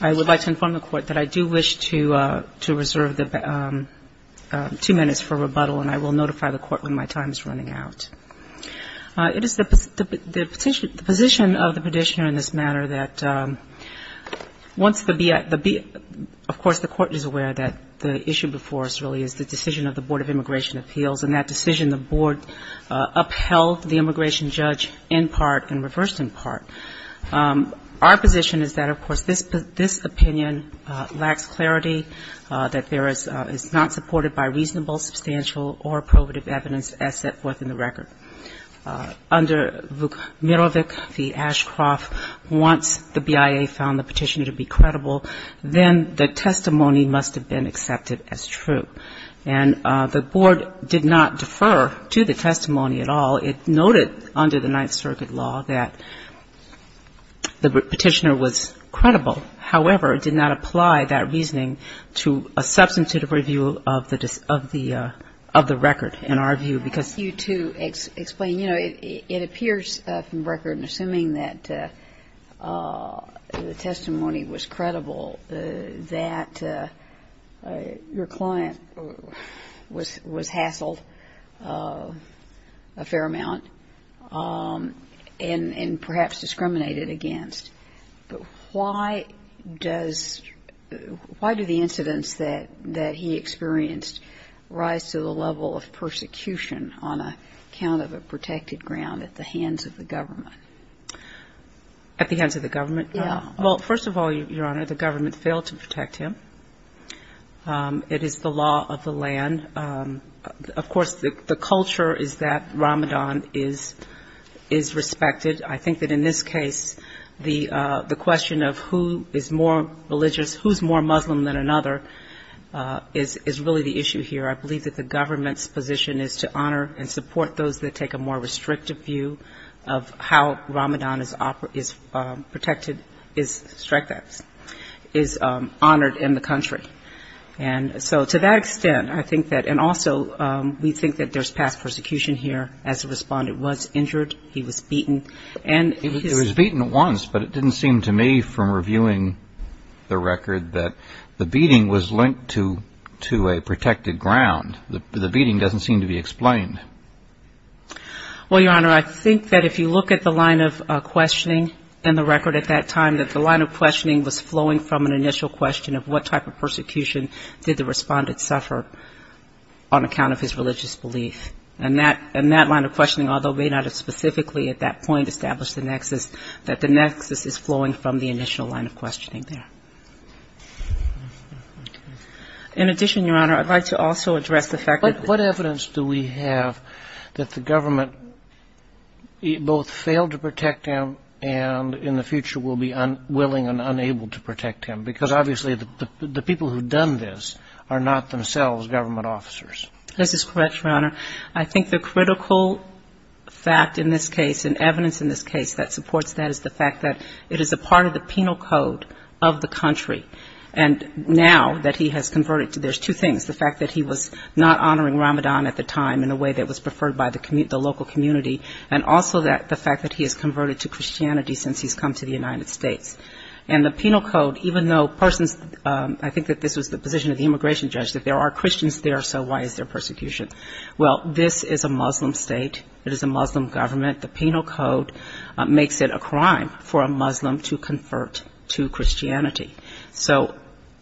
I would like to inform the Court that I do wish to reserve two minutes for rebuttal, and I will notify the Court when my time is running out. It is the position of the Petitioner in this matter that once the – of course, the Court is aware that the issue before us really is the decision of the Board of Immigration Appeals, and that decision the Board upheld the immigration judge in part and reversed in part. Our position is that, of course, this – this opinion lacks clarity, that there is – is not supported by reasonable, substantial, or probative evidence as set forth in the record. Under Vukmirovic v. Ashcroft, once the BIA found the petitioner to be credible, then the testimony must have been accepted as true. And the Board did not defer to the testimony at all. It noted under the Ninth Circuit law that the petitioner was credible. However, it did not apply that reasoning to a substantive review of the – of the record, in our view, because – was – was hassled a fair amount and – and perhaps discriminated against. But why does – why do the incidents that – that he experienced rise to the level of persecution on account of a protected ground at the hands of the government? At the hands of the government? Yeah. Well, first of all, Your Honor, the government failed to protect him. It is the law of the land. Of course, the – the culture is that Ramadan is – is respected. I think that in this case, the – the question of who is more religious, who's more Muslim than another, is – is really the issue here. I believe that the government's position is to honor and support those that take a more restrictive view of how Ramadan is – is protected, is – is honored in the country. And so to that extent, I think that – and also we think that there's past persecution here. As a respondent was injured. He was beaten. And his – He was beaten once, but it didn't seem to me from reviewing the record that the beating was linked to – to a protected ground. The beating doesn't seem to be explained. Well, Your Honor, I think that if you look at the line of questioning in the record at that time, that the line of questioning was flowing from an initial question of what type of persecution did the respondent suffer on account of his religious belief. And that – and that line of questioning, although may not have specifically at that point established the nexus, that the nexus is flowing from the initial line of questioning there. In addition, Your Honor, I'd like to also address the fact that what evidence do we have that the government both failed to protect him and in the future will be unwilling and unable to protect him? Because obviously the people who've done this are not themselves government officers. This is correct, Your Honor. I think the critical fact in this case and evidence in this case that supports that is the fact that it is a part of the penal code of the country. And now that he has converted – there's two things, the fact that he was not honoring Ramadan at the time in a way that was preferred by the local community, and also the fact that he has converted to Christianity since he's come to the United States. And the penal code, even though persons – I think that this was the position of the immigration judge, that there are Christians there, so why is there persecution? Well, this is a Muslim state. It is a Muslim government. The penal code makes it a crime for a Muslim to convert to Christianity. So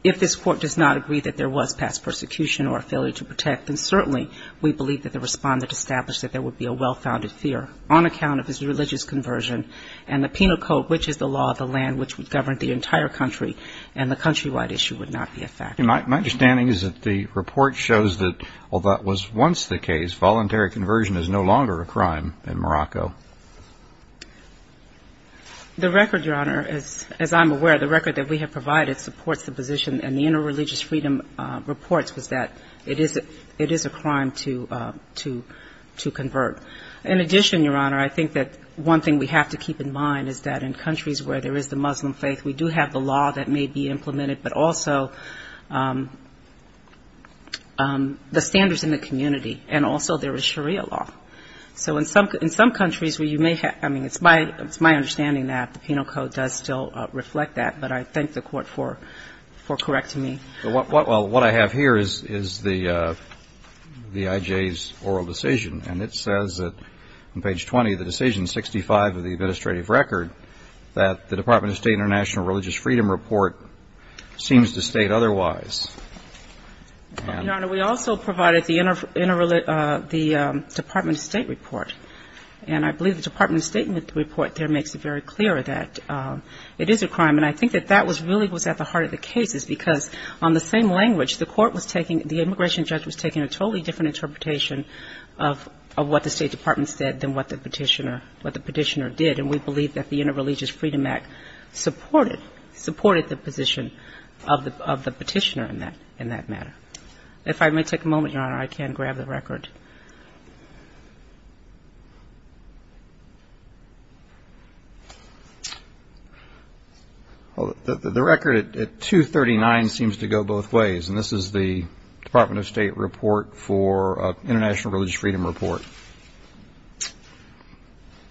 if this Court does not agree that there was past persecution or a failure to protect, then certainly we believe that the respondent established that there would be a well-founded fear on account of his religious conversion and the penal code, which is the law of the land, which would govern the entire country, and the countrywide issue would not be a factor. My understanding is that the report shows that although that was once the case, voluntary conversion is no longer a crime in Morocco. The record, Your Honor, as I'm aware, the record that we have provided supports the position and the Interreligious Freedom Reports was that it is a crime to convert. In addition, Your Honor, I think that one thing we have to keep in mind is that in countries where there is the Muslim faith, we do have the law that may be implemented, but also the standards in the community, and also there is Sharia law. So in some countries where you may have, I mean, it's my understanding that the penal code does still reflect that, but I thank the Court for correcting me. Well, what I have here is the IJ's oral decision, and it says that on page 20 of the decision 65 of the administrative record that the Department of State International Religious Freedom Report seems to state otherwise. Your Honor, we also provided the Department of State report, and I believe the Department of State report there makes it very clear that it is a crime. And I think that that was really at the heart of the cases, because on the same language, the court was taking the immigration judge was taking a totally different interpretation of what the State Department said than what the Petitioner did. And we believe that the Interreligious Freedom Act supported the position of the Petitioner. If I may take a moment, Your Honor, I can grab the record. The record at 239 seems to go both ways, and this is the Department of State report for International Religious Freedom Report.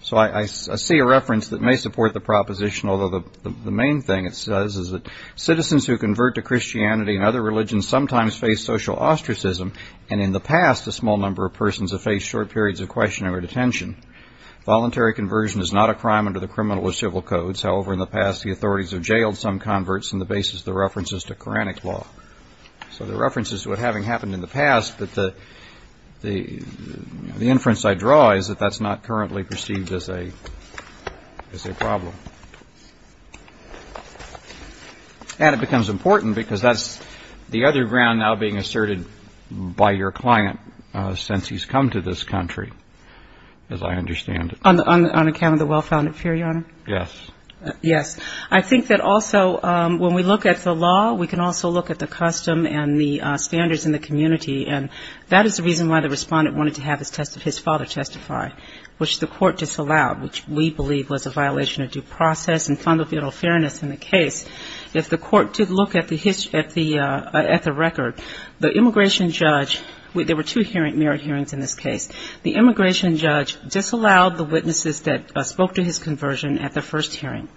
So I see a reference that may support the proposition, although the main thing it says is that citizens who convert to Christianity and other religions sometimes face social ostracism, and in the past a small number of persons have faced short periods of questioning or detention. Voluntary conversion is not a crime under the criminal or civil codes. However, in the past, the authorities have jailed some converts on the basis of the references to Quranic law. So the reference is to what having happened in the past, but the inference I draw is that that's not currently perceived as a problem. And it becomes important because that's the other ground now being asserted by your client since he's come to this country, as I understand it. On account of the well-founded fear, Your Honor? Yes. Yes. I think that also when we look at the law, we can also look at the custom and the standards in the community, and that is the reason why the respondent wanted to have his father testify, which the court disallowed, which we believe was a violation of due process and fundamental fairness in the case. If the court did look at the record, the immigration judge, there were two merit hearings in this case. The immigration judge disallowed the witnesses that spoke to his conversion at the first hearing,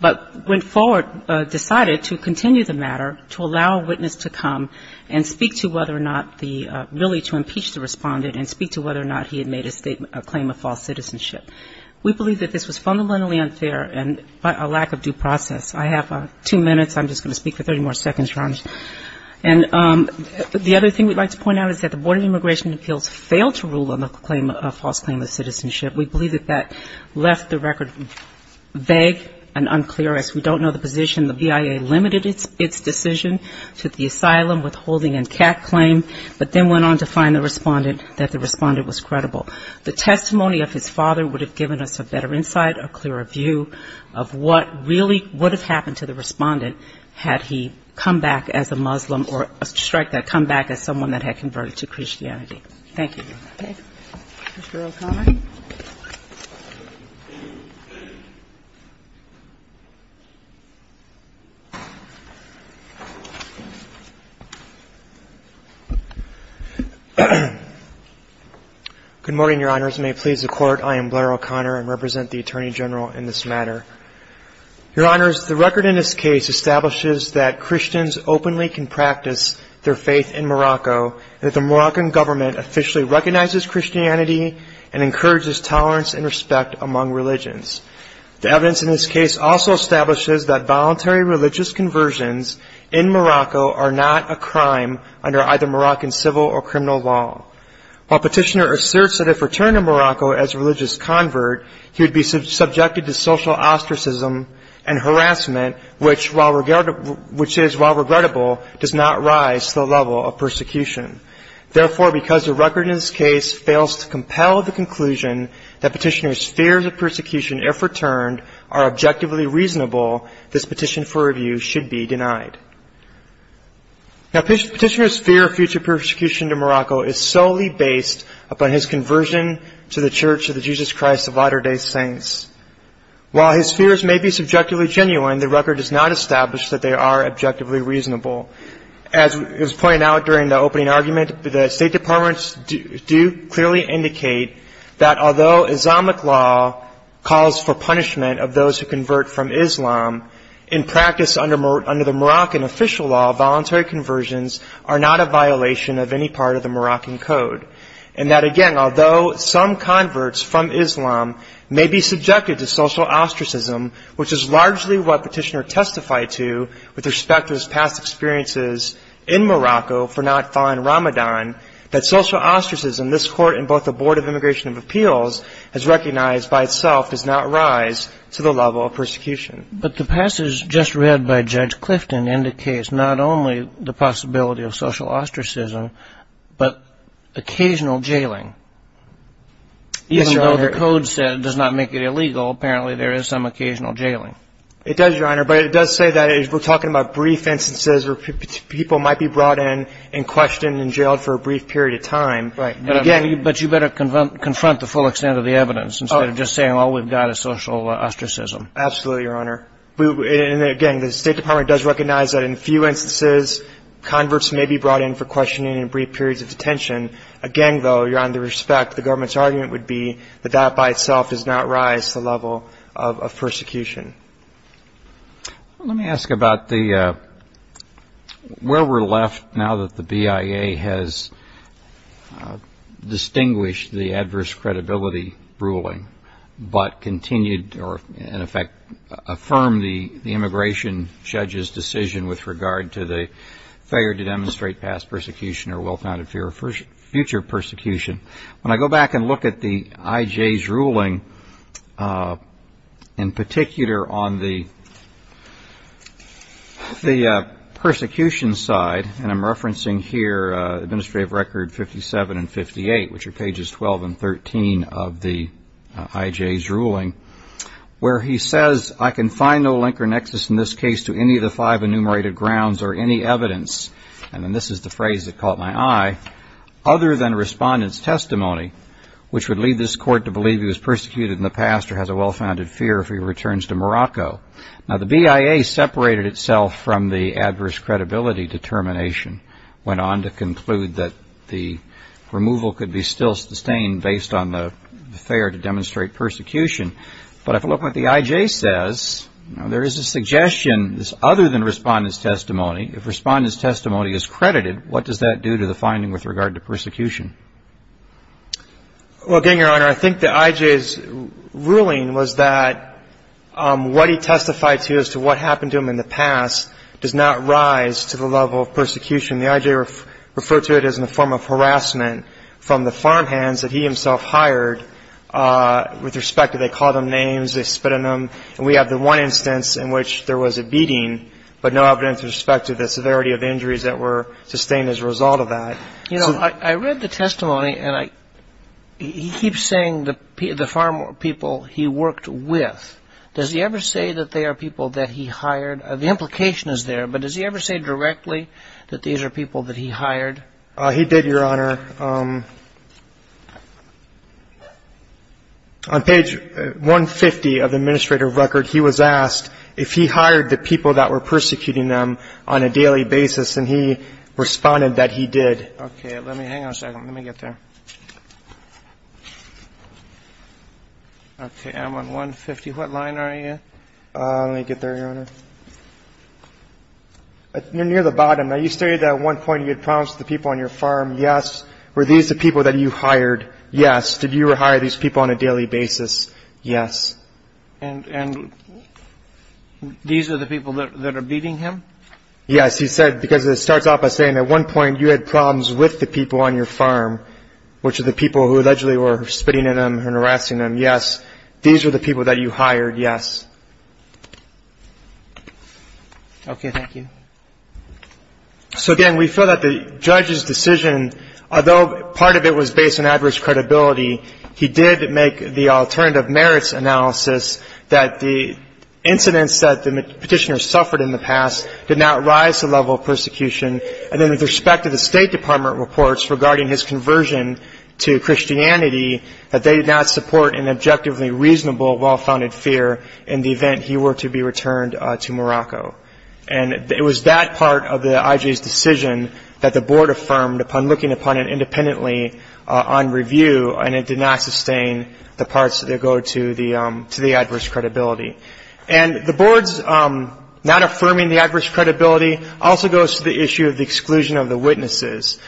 but went forward, decided to continue the matter to allow a witness to come and speak to whether or not the really to impeach the respondent and speak to whether or not he had made a claim of false citizenship. We believe that this was fundamentally unfair and a lack of due process. I have two minutes. I'm just going to speak for 30 more seconds, Your Honor. And the other thing we'd like to point out is that the Board of Immigration Appeals failed to rule on the false claim of citizenship. They went on to find the respondent that the respondent was credible. The testimony of his father would have given us a better insight, a clearer view of what really would have happened to the respondent had he come back as a Muslim or strike that comeback as someone that had converted to Christianity. Thank you. Mr. O'Connor. Good morning, Your Honors. May it please the Court, I am Blair O'Connor and represent the Attorney General in this matter. Your Honors, the record in this case establishes that Christians openly can practice their faith in Morocco and that the Moroccan government officially recognizes Christianity and encourages tolerance and respect among religions. The evidence in this case also establishes that voluntary religious conversions in Morocco are not a crime under either Moroccan civil or criminal law. While Petitioner asserts that if returned to Morocco as a religious convert, he would be subjected to social ostracism and harassment, which is, while regrettable, does not rise to the level of persecution. Therefore, because the record in this case fails to compel the conclusion that Petitioner's fears of persecution if returned are objectively reasonable, this petition for review should be denied. Now, Petitioner's fear of future persecution to Morocco is solely based upon his conversion to the Church of the Jesus Christ of Latter-day Saints. While his fears may be subjectively genuine, the record does not establish that they are objectively reasonable. As was pointed out during the opening argument, the State Department clearly indicates that although Islamic law calls for punishment of those who convert from Islam, in practice under the Moroccan official law, voluntary conversions are not a violation of any part of the Moroccan Code, and that, again, although some converts from Islam may be subjected to social ostracism, which is largely what Petitioner testified to with respect to his past experiences in Morocco for not following Ramadan, that social ostracism, this court and both the Board of Immigration and Appeals has recognized by itself does not rise to the level of persecution. But the passage just read by Judge Clifton indicates not only the possibility of social ostracism, but occasional jailing. Even though the Code said it does not make it illegal, apparently there is some occasional jailing. It does, Your Honor, but it does say that we're talking about brief instances where people might be brought in and questioned and jailed for a brief period of time. But you better confront the full extent of the evidence instead of just saying all we've got is social ostracism. Absolutely, Your Honor. And again, the State Department does recognize that in few instances converts may be brought in for questioning and brief periods of detention. Again, though, you're on the respect, the government's argument would be that that by itself does not rise to the level of persecution. Let me ask about the where we're left now that the BIA has, you know, it's been a long time since we've had a case like this. It's been a long time since we've had a case like this. And I'm wondering if you could distinguish the adverse credibility ruling, but continued or, in effect, affirm the immigration judge's decision with regard to the failure to demonstrate past persecution or well-founded fear of future persecution. When I go back and look at the IJ's ruling, in particular on the persecution side, and I'm referencing here administrative record 57 and 58, which are pages 12 and 13 of the IJ's ruling, where he says, I can find no link or nexus in this case to any of the five enumerated grounds or any evidence, and then this is the phrase that caught my eye, other than respondent's testimony, which would lead this court to believe he was persecuted in the past or has a well-founded fear if he returns to Morocco. Now, the BIA separated itself from the adverse credibility determination, went on to conclude that the removal of the record could be still sustained based on the fear to demonstrate persecution. But if I look at what the IJ says, there is a suggestion, other than respondent's testimony, if respondent's testimony is credited, what does that do to the finding with regard to persecution? Well, again, Your Honor, I think the IJ's ruling was that what he testified to as to what happened to him in the past does not rise to the level of any form of harassment from the farmhands that he himself hired with respect to they called them names, they spit on them, and we have the one instance in which there was a beating, but no evidence with respect to the severity of injuries that were sustained as a result of that. You know, I read the testimony, and he keeps saying the farm people he worked with. Does he ever say that they are people that he hired? The answer is no, Your Honor. And if he did, Your Honor, on page 150 of the administrative record, he was asked if he hired the people that were persecuting them on a daily basis, and he responded that he did. Okay, let me hang on a second. Let me get there. Okay, I'm on 150. What line are you in? Let me get there, Your Honor. You're near the bottom. Now, you stated that at one point you had problems with the people on your farm. Yes. Were these the people that you hired? Yes. Did you hire these people on a daily basis? Yes. And these are the people that are beating him? Yes, he said, because it starts off by saying at one point you had problems with the people on your farm, which are the people who allegedly were spitting at him and harassing him. Yes. These are the people that you hired. Yes. Okay, thank you. So, again, we feel that the judge's decision, although part of it was based on adverse credibility, he did make the alternative merits analysis that the incidents that the petitioner suffered in the past did not rise to the level of persecution, and then with respect to the State Department reports regarding his conversion to Christianity, that they did not support an objectively reasonable well-founded fear in the event he were to be returned to Morocco. And it was that part of the IJ's decision that the board affirmed upon looking upon it independently on review, and it did not sustain the parts that go to the adverse credibility. And the board's not affirming the adverse credibility also goes to the issue of the exclusion of the witnesses.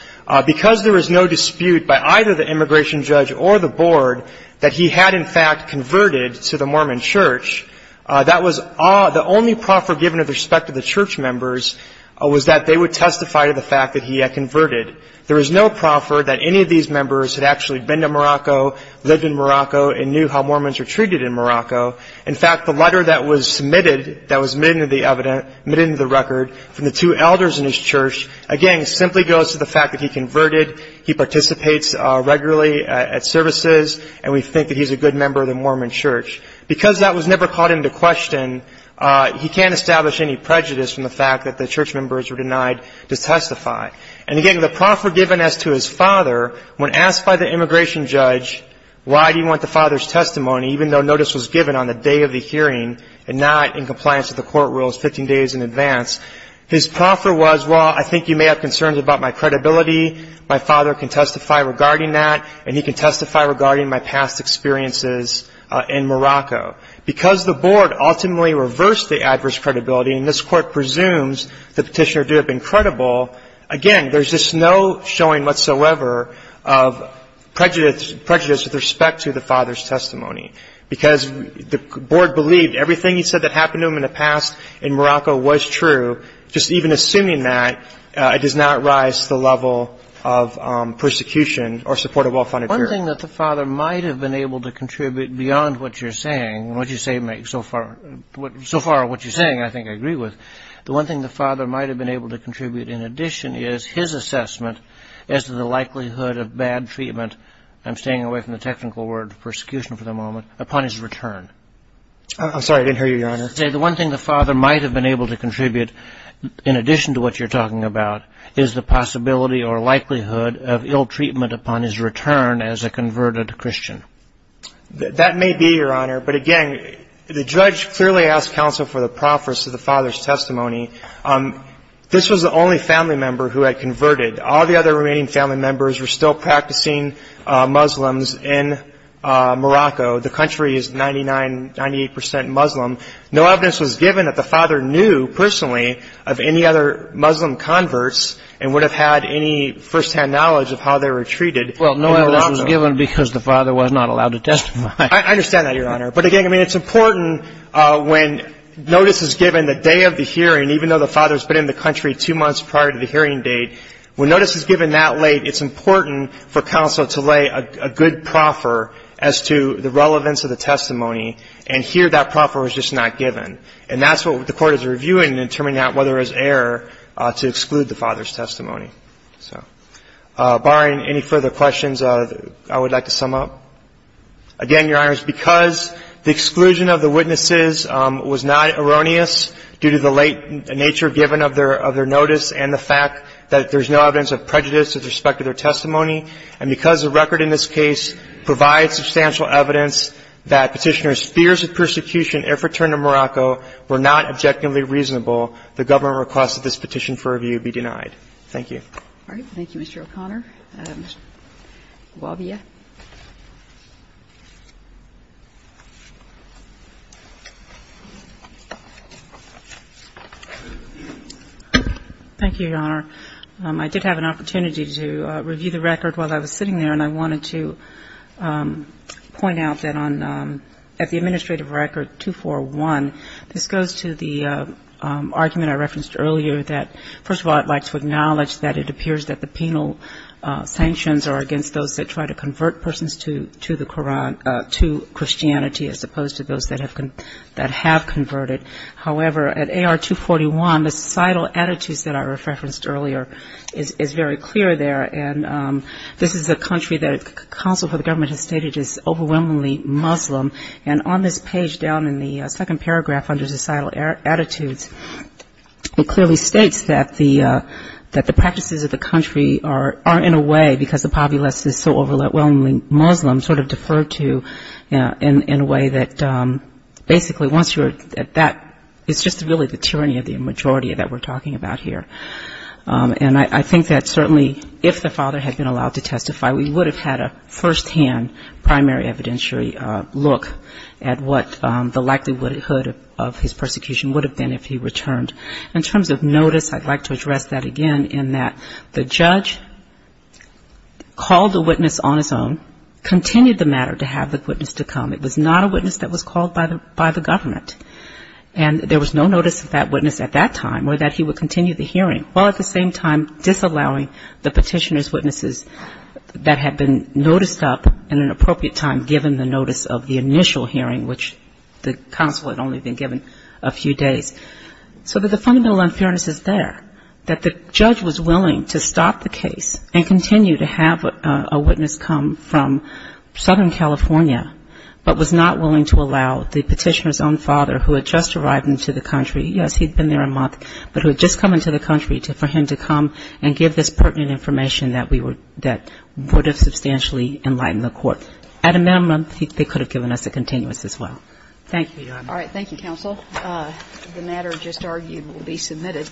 Because there was no dispute by either the immigration judge or the board that he had, in fact, converted to the Mormon Church, the judge's decision that was the only proffer given with respect to the church members was that they would testify to the fact that he had converted. There was no proffer that any of these members had actually been to Morocco, lived in Morocco, and knew how Mormons were treated in Morocco. In fact, the letter that was submitted, that was admitted into the record from the two elders in his church, again, simply goes to the fact that he converted, he participates regularly at services, and we think that he's a good member of the Mormon Church. Because that was never called into question, he can't establish any prejudice from the fact that the church members were denied to testify. And again, the proffer given as to his father, when asked by the immigration judge, why do you want the father's testimony, even though notice was given on the day of the hearing and not in compliance with the court rules 15 days in advance, his proffer was, well, I think you may have concerns about my credibility. My father can testify regarding that, and he can testify regarding my past experiences in Morocco. Because the board ultimately reversed the adverse credibility, and this Court presumes the petitioner do have been credible, again, there's just no showing whatsoever of prejudice with respect to the father's testimony. Because the board believed everything he said that happened to him in the past in Morocco was true, just even assuming that, it does not rise to the level of prejudice, and that's why I'm asking you to testify. The one thing the father might have been able to contribute beyond what you're saying, and what you say makes so far what you're saying, I think I agree with, the one thing the father might have been able to contribute in addition is his assessment as to the likelihood of bad treatment, I'm staying away from the technical word, persecution for the moment, upon his return. I'm sorry, I didn't hear you, Your Honor. That may be, Your Honor, but again, the judge clearly asked counsel for the proffers to the father's testimony. This was the only family member who had converted. All the other remaining family members were still practicing Muslims in Morocco. The country is 99 percent Muslim. No evidence was given that the father knew personally of any other Muslim converts and would have had any first-hand knowledge of how they were treated in Morocco. Well, no evidence was given because the father was not allowed to testify. I understand that, Your Honor. But again, I mean, it's important when notice is given the day of the hearing, even though the father's been in the hearing, the father's testimony, and here that proffer was just not given. And that's what the court is reviewing in determining whether there's error to exclude the father's testimony. So, barring any further questions, I would like to sum up. Again, Your Honor, because the exclusion of the witnesses was not erroneous due to the late nature given of their notice and the fact that there's no evidence of prejudice with respect to their testimony, and because the record in this case provides substantial evidence that Petitioner's fears of persecution if returned to Morocco were not objectively reasonable, the government requests that this petition for review be denied. Thank you. All right. Thank you, Mr. O'Connor. Ms. Guavia. Thank you, Your Honor. I just wanted to point out that at the Administrative Record 241, this goes to the argument I referenced earlier that, first of all, I'd like to acknowledge that it appears that the penal sanctions are against those that try to convert persons to Christianity as opposed to those that have converted. However, at AR241, the societal attitudes that I referenced earlier is very clear there, and this is a country that it comes down to and the Council for the Government has stated is overwhelmingly Muslim, and on this page down in the second paragraph under societal attitudes, it clearly states that the practices of the country are in a way, because the populace is so overwhelmingly Muslim, sort of deferred to in a way that basically once you're at that, it's just really the tyranny of the majority that we're talking about here. And I think that certainly if the father had been allowed to testify, we would have had a firsthand primary evidentiary look at what the likelihood of his persecution would have been if he returned. In terms of notice, I'd like to address that again in that the judge called the witness on his own, continued the matter to have the witness to come. It was not a witness that was called by the government. And there was no notice of that witness at that time or that he would continue the petitioner's witnesses that had been noticed up at an appropriate time given the notice of the initial hearing, which the Council had only been given a few days. So the fundamental unfairness is there, that the judge was willing to stop the case and continue to have a witness come from Southern California, but was not willing to allow the petitioner's own father who had just arrived into the country. Yes, he'd been there a long time, but he was not willing to allow the petitioner's own father to come into the country. And I think that's a very important information that would have substantially enlightened the court. At a minimum, they could have given us a continuous as well. Thank you, Your Honor. All right. Thank you, Counsel. The matter just argued will be submitted.